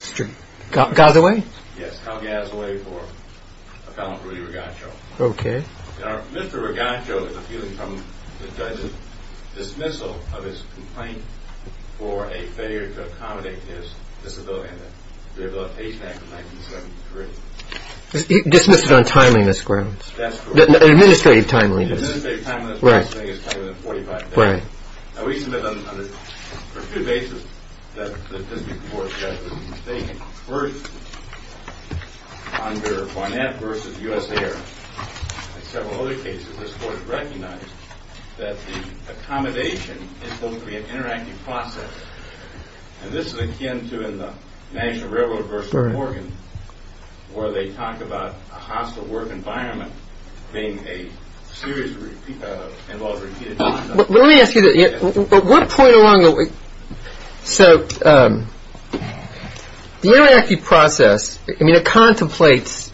Mr. Calgasway for a felon, Rudy Ragacho. Mr. Ragacho is appealing from the judge's dismissal of his complaint for a failure to accommodate his disability in the Disability Pay Act of 1973. He dismissed it on timeliness grounds. Administrative timeliness. Administrative timeliness for this thing is probably more than 45 days. We submit on two bases that the District Court judge was mistaken. First, under Barnett v. USAir and several other cases, this Court has recognized that the accommodation is mostly an interactive process. And this is akin to in the National Railroad v. Morgan where they talk about a hostile work environment being a series of repeated... Let me ask you, at what point along the way... The interactive process contemplates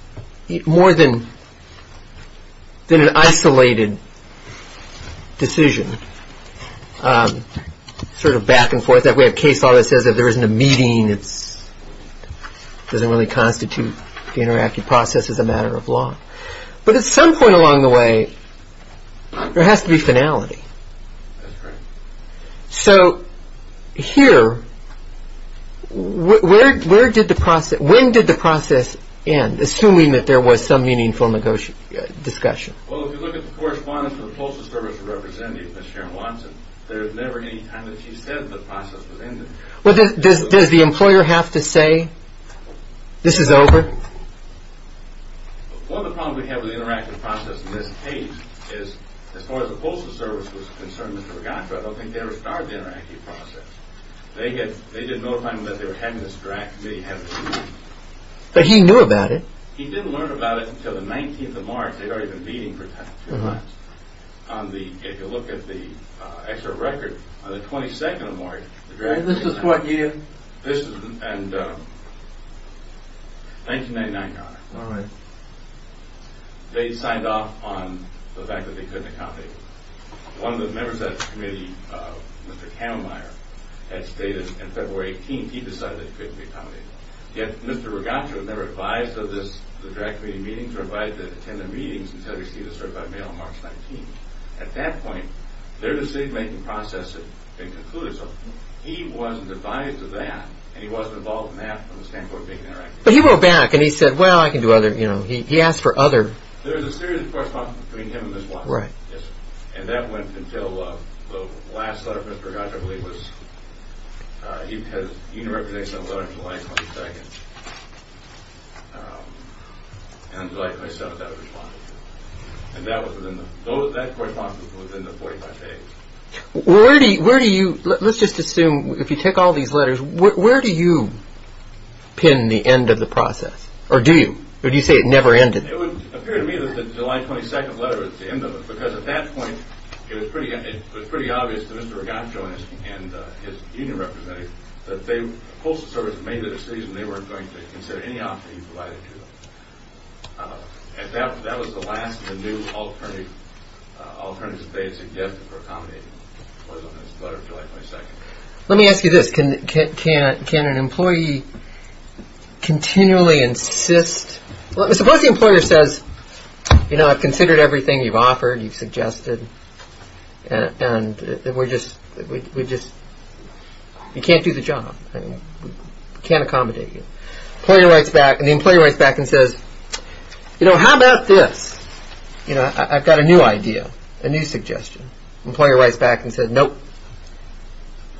more than an isolated decision, sort of back and forth. We have case law that says if there isn't a meeting, it doesn't really constitute the interactive process as a matter of law. But at some point along the way, there has to be finality. So here, when did the process end, assuming that there was some meaningful discussion? Well, if you look at the correspondence with the postal service representative, Ms. Sharon Watson, there was never any time that she said the process was ended. Does the employer have to say, this is over? One of the problems we have with the interactive process in this case is, as far as the postal service was concerned, I don't think they ever started the interactive process. They did notify him that they were having this draft meeting. But he knew about it. He didn't learn about it until the 19th of March. They'd already been meeting for two months. If you look at the extra record, on the 22nd of March... And this is what year? This is in 1999, Your Honor. All right. They'd signed off on the fact that they couldn't accommodate it. One of the members of that committee, Mr. Kamenmeier, had stated in February 18th, he decided that it couldn't be accommodated. Yet, Mr. Rigatra had never advised of this, the draft committee meeting, or invited to attend the meetings until he received a certified mail on March 19th. At that point, their decision-making process had concluded. So he wasn't advised of that, and he wasn't involved in that from the standpoint of being interactive. But he wrote back, and he said, well, I can do other... He asked for other... There was a series of correspondence between him and Ms. Watson. And that went until the last letter from Mr. Rigatra, I believe, was... He had a unirrepresentative letter on July 22nd. And until July 27th, that was responded to. And that correspondence was within the 45 days. Where do you... Let's just assume, if you take all these letters, where do you pin the end of the process? Or do you? Or do you say it never ended? It would appear to me that the July 22nd letter was the end of it. Because at that point, it was pretty obvious to Mr. Rigatra and his unirrepresentative that the Postal Service made the decision they weren't going to consider any offer he provided to them. And that was the last of the new alternatives that they had suggested for accommodating. It was on this letter July 22nd. Let me ask you this. Can an employee continually insist... Suppose the employer says, you know, I've considered everything you've offered, you've suggested. And we're just... You can't do the job. We can't accommodate you. The employer writes back and says, you know, how about this? You know, I've got a new idea, a new suggestion. The employer writes back and says, nope,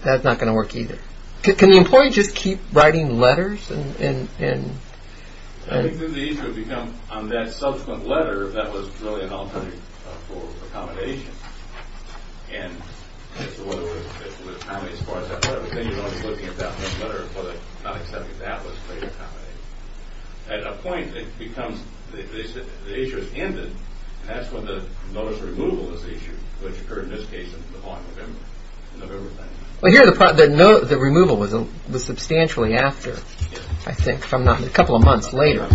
that's not going to work either. Can the employee just keep writing letters? I think that the issue would become on that subsequent letter, that was really an alternative for accommodation. And as far as that letter, but then you're always looking at that letter, whether or not accepting that was a way to accommodate. At a point, it becomes, the issue is ended, and that's when the notice of removal is issued, which occurred in this case in the fall of November. Well, here the removal was substantially after, I think, a couple of months later,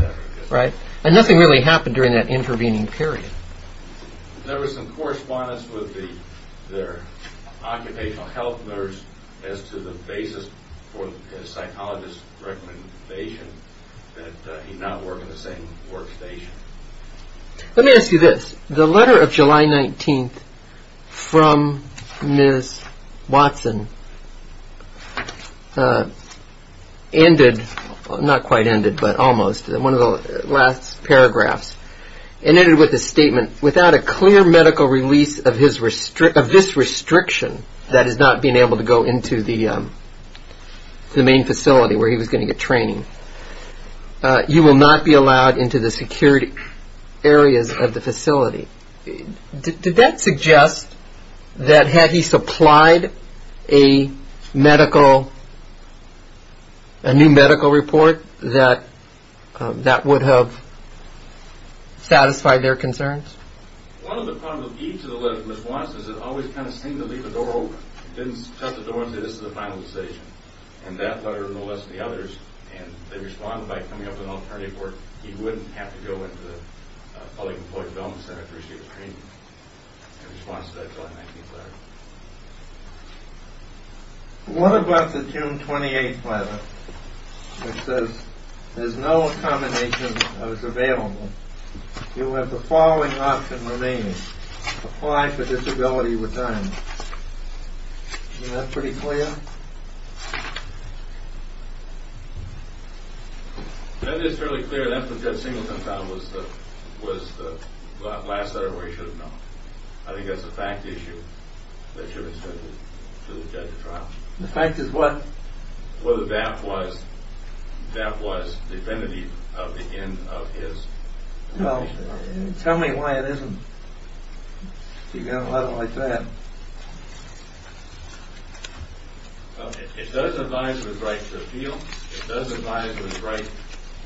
right? And nothing really happened during that intervening period. There was some correspondence with their occupational health nurse as to the basis for the psychologist's recommendation that he not work at the same workstation. Let me ask you this. The letter of July 19th from Ms. Watson ended, not quite ended, but almost, in one of the last paragraphs, it ended with a statement, without a clear medical release of this restriction, that is not being able to go into the main facility where he was going to get training, you will not be allowed into the security areas of the facility. Did that suggest that had he supplied a medical, a new medical report, that that would have satisfied their concerns? One of the problems with each of the letters from Ms. Watson is that it always kind of seemed to leave the door open. It didn't touch the door and say this is the final decision. And that letter, no less than the others, and they responded by coming up with an alternative where he wouldn't have to go into the Public Employee Development Center for his training in response to that July 19th letter. What about the June 28th letter, which says there's no accommodation that was available. You have the following option remaining. Apply for disability retirement. Isn't that pretty clear? That is fairly clear. That's what Judge Singleton found was the last letter where he should have known. I think that's a fact issue. That should have been submitted to the judge at trial. The fact is what? Whether that was definitive of the end of his application. Tell me why it isn't. You got a letter like that. It does advise with right to appeal. It does advise with right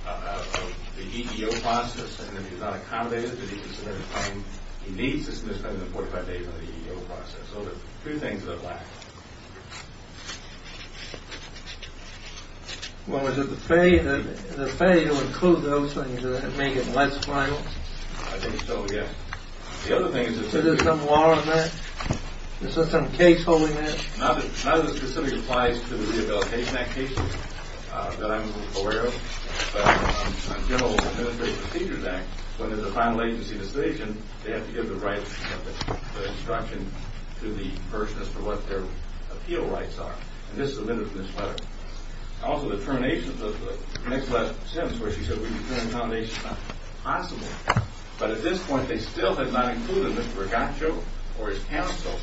of the EEO process. And if he's not accommodated, he needs to spend 45 days in the EEO process. So there's two things that lack. Well, is it the fee to include those things and make it less violent? I think so, yes. Is there some law on that? Is there some case holding that? None of this specifically applies to the Rehabilitation Act cases that I'm aware of. But on General Administrative Procedures Act, when there's a final agency decision, they have to give the right of instruction to the person as to what their appeal rights are. And this is submitted in this letter. Also, the termination of the next last sentence where she said, we determine accommodations not possible. But at this point, they still have not included Mr. Regaccio or his counsel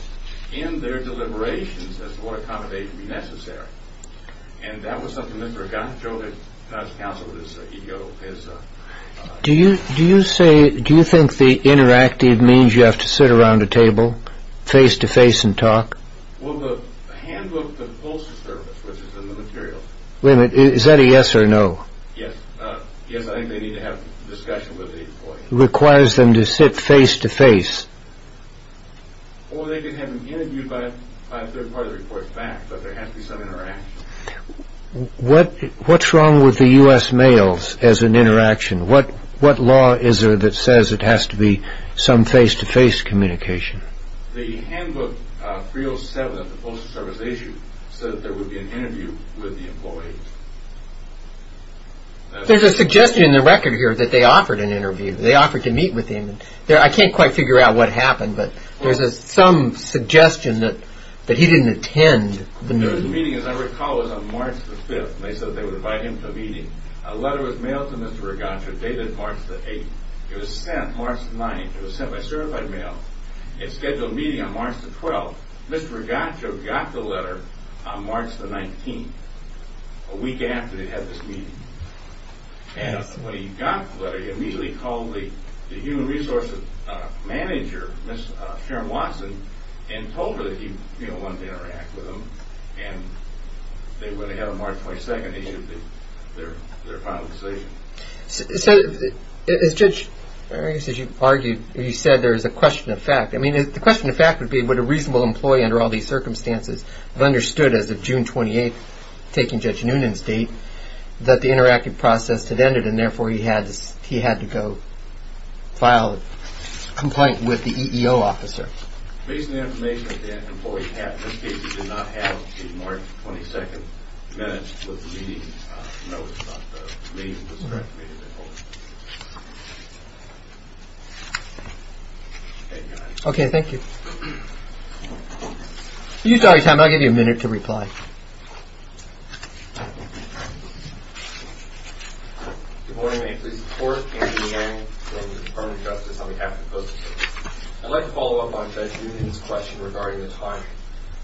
in their deliberations as to what accommodation would be necessary. And that was something Mr. Regaccio, his counsel, his EEO, his... Do you think the interactive means you have to sit around a table face to face and talk? Well, the handbook, the poster service, which is in the materials... Wait a minute, is that a yes or a no? Yes. Yes, I think they need to have discussion with the employee. It requires them to sit face to face. Or they can have them interviewed by a third party to report back. But there has to be some interaction. What's wrong with the U.S. mails as an interaction? What law is there that says it has to be some face to face communication? The handbook 307, the poster service issue, said that there would be an interview with the employee. There's a suggestion in the record here that they offered an interview. They offered to meet with him. I can't quite figure out what happened, but there's some suggestion that he didn't attend the meeting. The meeting, as I recall, was on March 5th, and they said they would invite him to a meeting. A letter was mailed to Mr. Regaccio dated March 8th. It was sent March 9th. It was sent by certified mail. It scheduled a meeting on March 12th. Mr. Regaccio got the letter on March 19th, a week after they had this meeting. When he got the letter, he immediately called the human resources manager, Sharon Watson, and told her that he wanted to interact with him. When they had him on March 22nd, they issued their final decision. So, as Judge Arias has argued, you said there is a question of fact. The question of fact would be, would a reasonable employee under all these circumstances have understood as of June 28th, taking Judge Noonan's date, that the interactive process had ended and therefore he had to go file a complaint with the EEO officer. Based on the information that the employee had, in this case he did not have a March 22nd minute with the meeting. No, the meeting was not a meeting at all. Okay, thank you. If you have time, I'll give you a minute to reply. Good morning, may I please report, Andy Yang from the Department of Justice on behalf of the Postal Service. I'd like to follow up on Judge Noonan's question regarding the timing.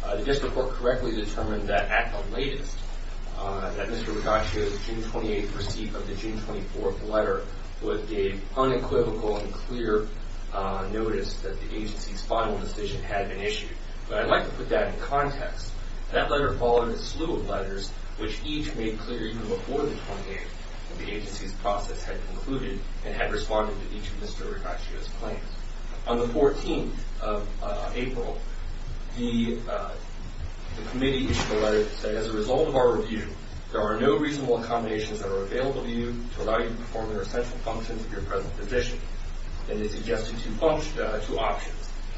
The district court correctly determined that at the latest, that Mr. Rigacio's June 28th receipt of the June 24th letter would give unequivocal and clear notice that the agency's final decision had been issued. But I'd like to put that in context. That letter followed a slew of letters, which each made clear even before the 28th that the agency's process had concluded and had responded to each of Mr. Rigacio's claims. On the 14th of April, the committee issued a letter that said, as a result of our review, there are no reasonable accommodations that are available to you to allow you to perform the essential functions of your present position. It is suggested two options,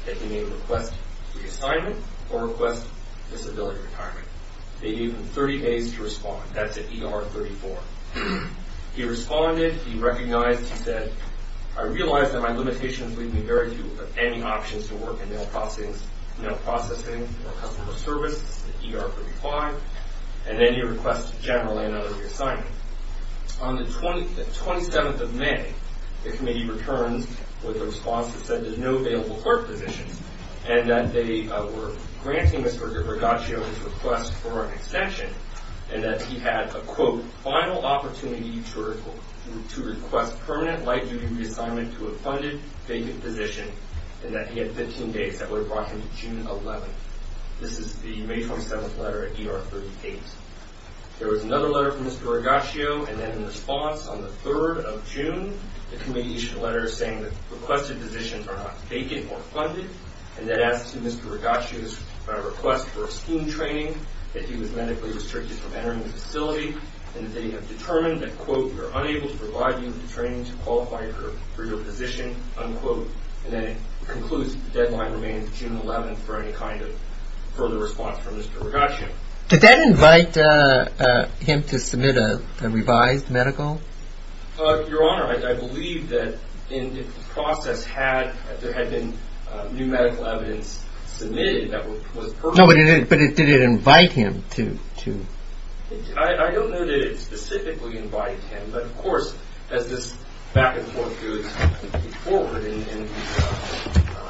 that you may request reassignment or request disability retirement. They gave him 30 days to respond. That's at ER 34. He responded. He recognized. He said, I realize that my limitations leave me very few of any options to work in mail processing or customer service. This is at ER 35. And then he requested generally another reassignment. On the 27th of May, the committee returns with a response that said there's no available clerk positions and that they were granting Mr. Rigacio his request for an extension and that he had a, quote, final opportunity to request permanent life-duty reassignment to a funded, vacant position and that he had 15 days. That would have brought him to June 11th. This is the May 27th letter at ER 38. There was another letter from Mr. Rigacio and then in response, on the 3rd of June, the committee issued a letter saying that requested positions are not vacant or funded and that as to Mr. Rigacio's request for a scheme training, that he was medically restricted from entering the facility and that they have determined that, quote, we are unable to provide you with the training to qualify for your position, unquote. And then it concludes that the deadline remains June 11th for any kind of further response from Mr. Rigacio. Did that invite him to submit a revised medical? Your Honor, I believe that in the process there had been new medical evidence submitted that was pertinent. No, but did it invite him to... I don't know that it specifically invited him, but of course, as this back and forth goes forward in the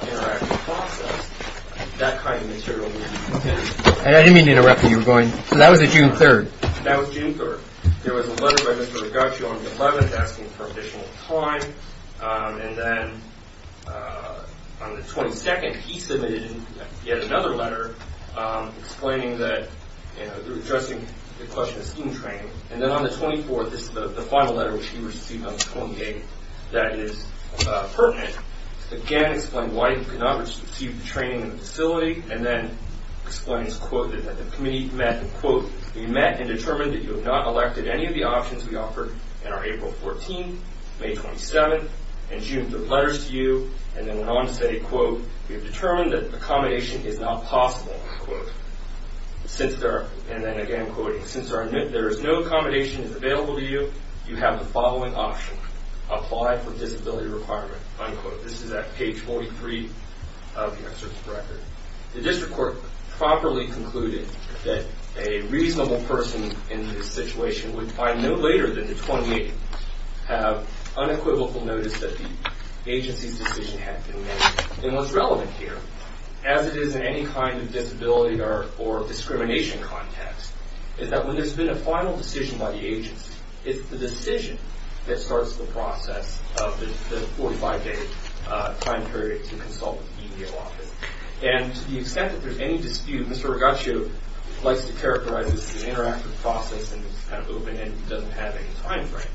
interactive process, that kind of material... And I didn't mean to interrupt when you were going... So that was June 3rd? That was June 3rd. There was a letter by Mr. Rigacio on the 11th asking for additional time and then on the 22nd, he submitted yet another letter explaining that, you know, addressing the question of student training. And then on the 24th, this is the final letter which he received on the 28th that is pertinent. Again, explaining why he could not receive the training in the facility and then explains, quote, that the committee met, unquote, we met and determined that you have not elected any of the options we offered in our April 14th, May 27th, and June 3rd letters to you and then went on to say, quote, we have determined that accommodation is not possible, unquote. And then again, quoting, since there is no accommodation that is available to you, you have the following option, apply for disability requirement, unquote. This is at page 43 of your search record. The district court properly concluded that a reasonable person in this situation would find no later than the 28th have unequivocal notice that the agency's decision had been made. And what's relevant here, as it is in any kind of disability or discrimination context, is that when there's been a final decision by the agency, it's the decision that starts the process of the 45-day time period to consult with the EDO office. And to the extent that there's any dispute, Mr. Rigaccio this as an interactive process and it's kind of open and doesn't have any time frame.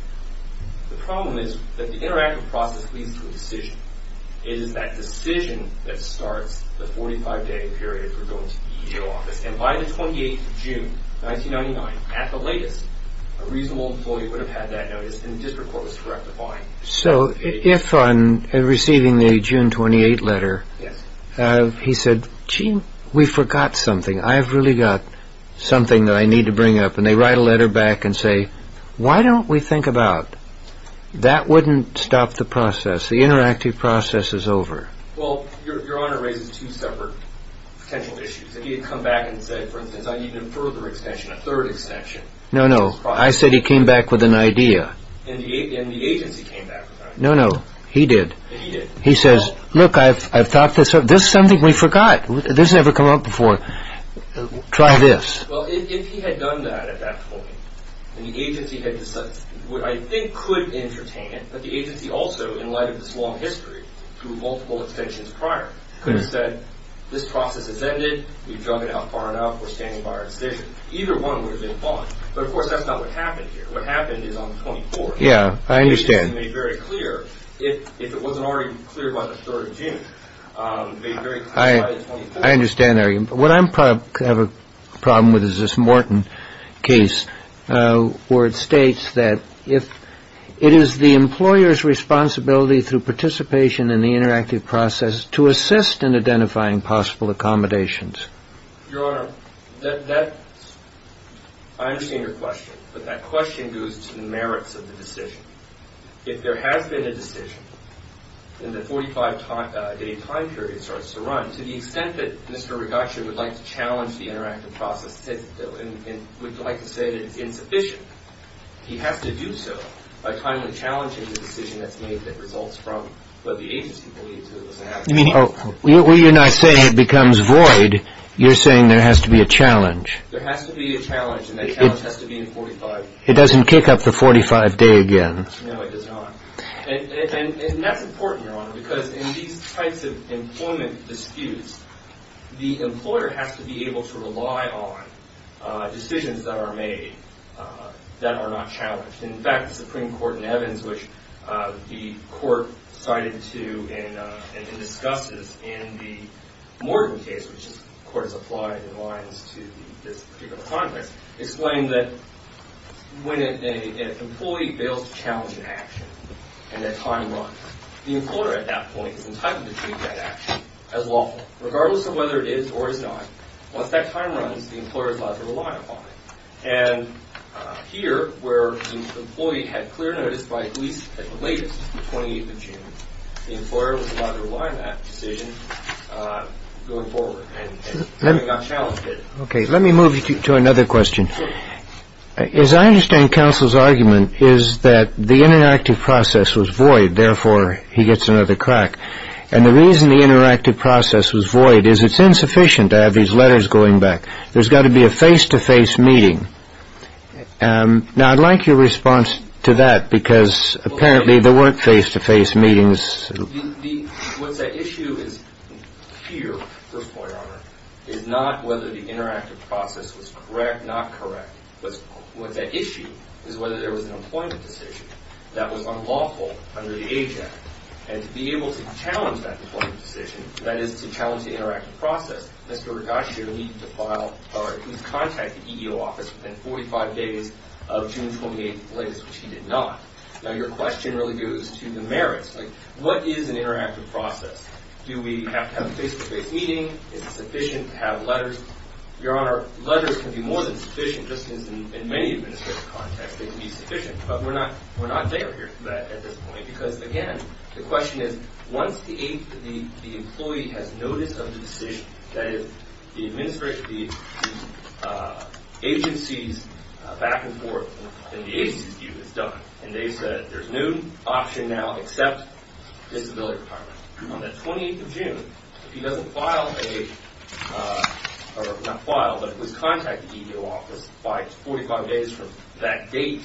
The problem is that the interactive process leads to a decision. It is that decision that starts the 45-day period for going to the EDO office. And by the 28th of June, 1999, at the latest, a reasonable employee would have had that notice and the district court was correct to find. So, if I'm receiving the June 28 letter, he said, gee, we forgot something. I've really got something that I need to bring up. And they write a letter back and say, why don't we think about... That wouldn't stop the process. The interactive process is over. Well, Your Honor raises two separate potential issues. If he had come back and said, for instance, I need a further extension, a third extension... No, no. I said he came back with an idea. And the agency came back with an idea. No, no. He did. He did. He says, look, this is something we forgot. This has never come up before. Try this. Well, if he had done that at that point and the agency had decided... I think could entertain it, but the agency also, in light of this long history, through multiple extensions prior, could have said, this process has ended, we've done it out far enough, we're standing by our decision. Either one would have been fine. But, of course, that's not what happened here. What happened is on the 24th. Yeah, I understand. The agency made very clear, if it wasn't already clear by the 3rd of June, made very clear by the 24th. I understand. What I have a problem with is this Morton case where it states that if it is the employer's responsibility through participation in the interactive process to assist in identifying possible accommodations. Your Honor, that... I understand your question, but that question goes to the merits of the decision. If there has been a decision in the 45-day time period it starts to run, to the extent that Mr. Ragacci would like to challenge the interactive process and would like to say that it's insufficient, he has to do so by timely challenging the decision that's made that results from what the agency believed to have... You're not saying it becomes void. You're saying there has to be a challenge. There has to be a challenge and that challenge has to be in 45. It doesn't kick up the 45-day again. No, it does not. And that's important, Your Honor, because in these types of employment disputes, the employer has to be able to rely on decisions that are made that are not challenged. In fact, the Supreme Court in Evans, which the Court cited to and discusses in the Morton case, which the Court has applied in lines to this particular context, explained that when an employee fails to challenge an action and their time runs, the employer at that point is entitled to treat that action as lawful, regardless of whether it is or is not. Once that time runs, the employer is allowed to rely upon it. And here, where the employee had clear notice by at least at the latest, the 28th of June, the employer was allowed to rely on that decision going forward. Let me move to another question. As I understand counsel's argument, is that the interactive process was void, therefore, he gets another crack. And the reason the interactive process was void is it's insufficient to have these face-to-face meetings. Now, I'd like your response to that because apparently there weren't face-to-face meetings. What's at issue is here, first of all, Your Honor, is not whether the interactive process was correct, not correct. What's at issue is whether there was an employment decision that was unlawful under the Age Act. And to be able to challenge that employment decision, that is to challenge the interactive process, Mr. Rigacio needed to contact the EEO office within 45 days of June 28, which he did not. Now, your question really goes to the merits. What is an interactive process? Do we have to have face-to-face meetings? Is it sufficient to have letters? Your Honor, letters can be more than sufficient, just as in many administrative contexts, they can be sufficient, but we're not there at this point because, again, the question is, once the employee has noticed of the decision, that is, the agencies back and forth, and the EEO notified the EEO office by 45 days from that date,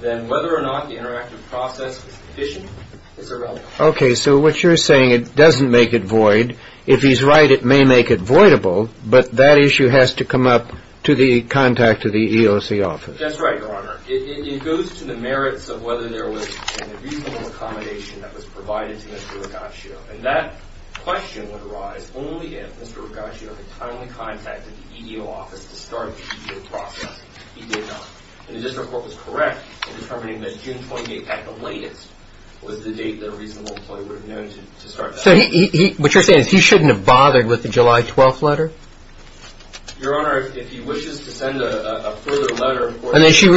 then whether or not the interactive process is sufficient is irrelevant. Okay, so what you're saying, it doesn't make it void. If he's right, it may make it voidable, but that issue has to come up to the contact of the EEOC office. That's right, Your Honor. It goes to the merits of whether there was a reasonable accommodation that was provided to Mr. Regaccio, and that question would arise only if Mr. Regaccio had timely contacted the EEO office to start the process. He did not. If this report was correct, determining that June 28th at the latest was the date that a reasonable employee would have known to start that process. So what you're saying is he shouldn't have bothered with the July 12th letter? Your Honor, if he wishes to send a further letter, of course, that you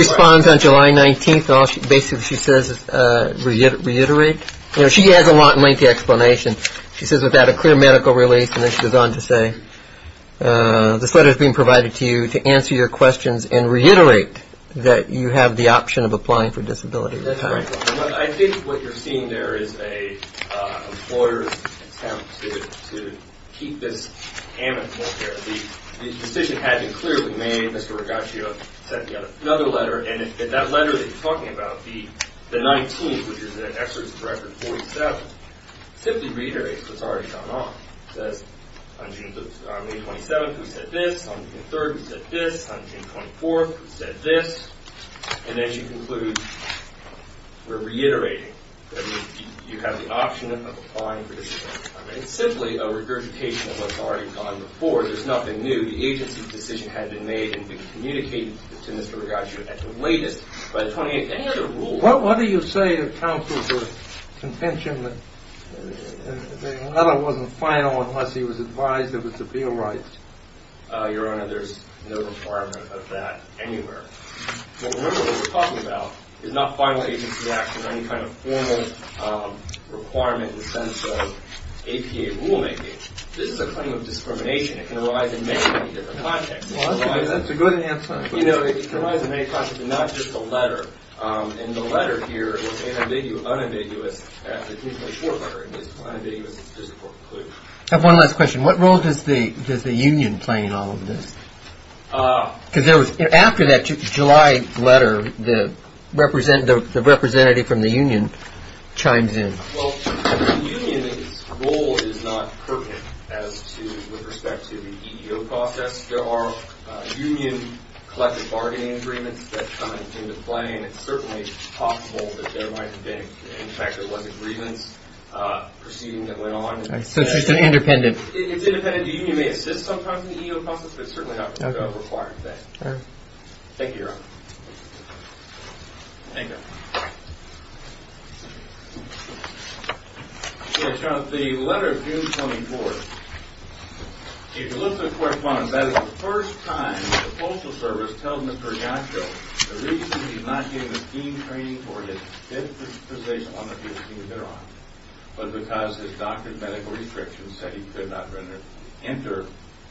have the option of applying for disability retirement. I think what you're seeing there is an employer's attempt to keep this hammock more clear. The decision had been clearly made. Mr. Regaccio sent another letter, and that letter that you're talking about, the 19th, which is the employee would have known to start that process. And as you conclude, we're reiterating that you have the option of applying for disability retirement. It's simply a regurgitation of what's already gone the process. So remember what we're talking about is not final agency action, any kind of formal requirement in the sense of APA rulemaking. This is a claim of discrimination that can arise in many, many different contexts. It can arise in many contexts. So the reason for this is that the union is not pertinent as to the respect to the EEO process. There are union collective bargaining agreements that come into play and it's an process. So it's independent. The union may assist the EEO process, but it's certainly not a required thing. Thank you, Your Honor. Thank you. The letter of June 24th, if you look at the letter of 24th, it says that the EEO process is a required thing. The EEO process is not a required thing. The EEO process is not a required thing. The EEO process is a required thing. process is not a required thing. The EEO process is a required thing. Thank you, Your Honor. Thank you, Your Honor. Thank you, Your Honor. Thank you, Your Honor. Thank you, Your Honor. Thank you, Your Honor. Thank you, Your Thank And I want to Madam will be second. Thank you, Madam will be second. Thank you, Your Honor. Thank you. And I would Did you have anything else to say? No. And no question at all. Thank you. Did you have anything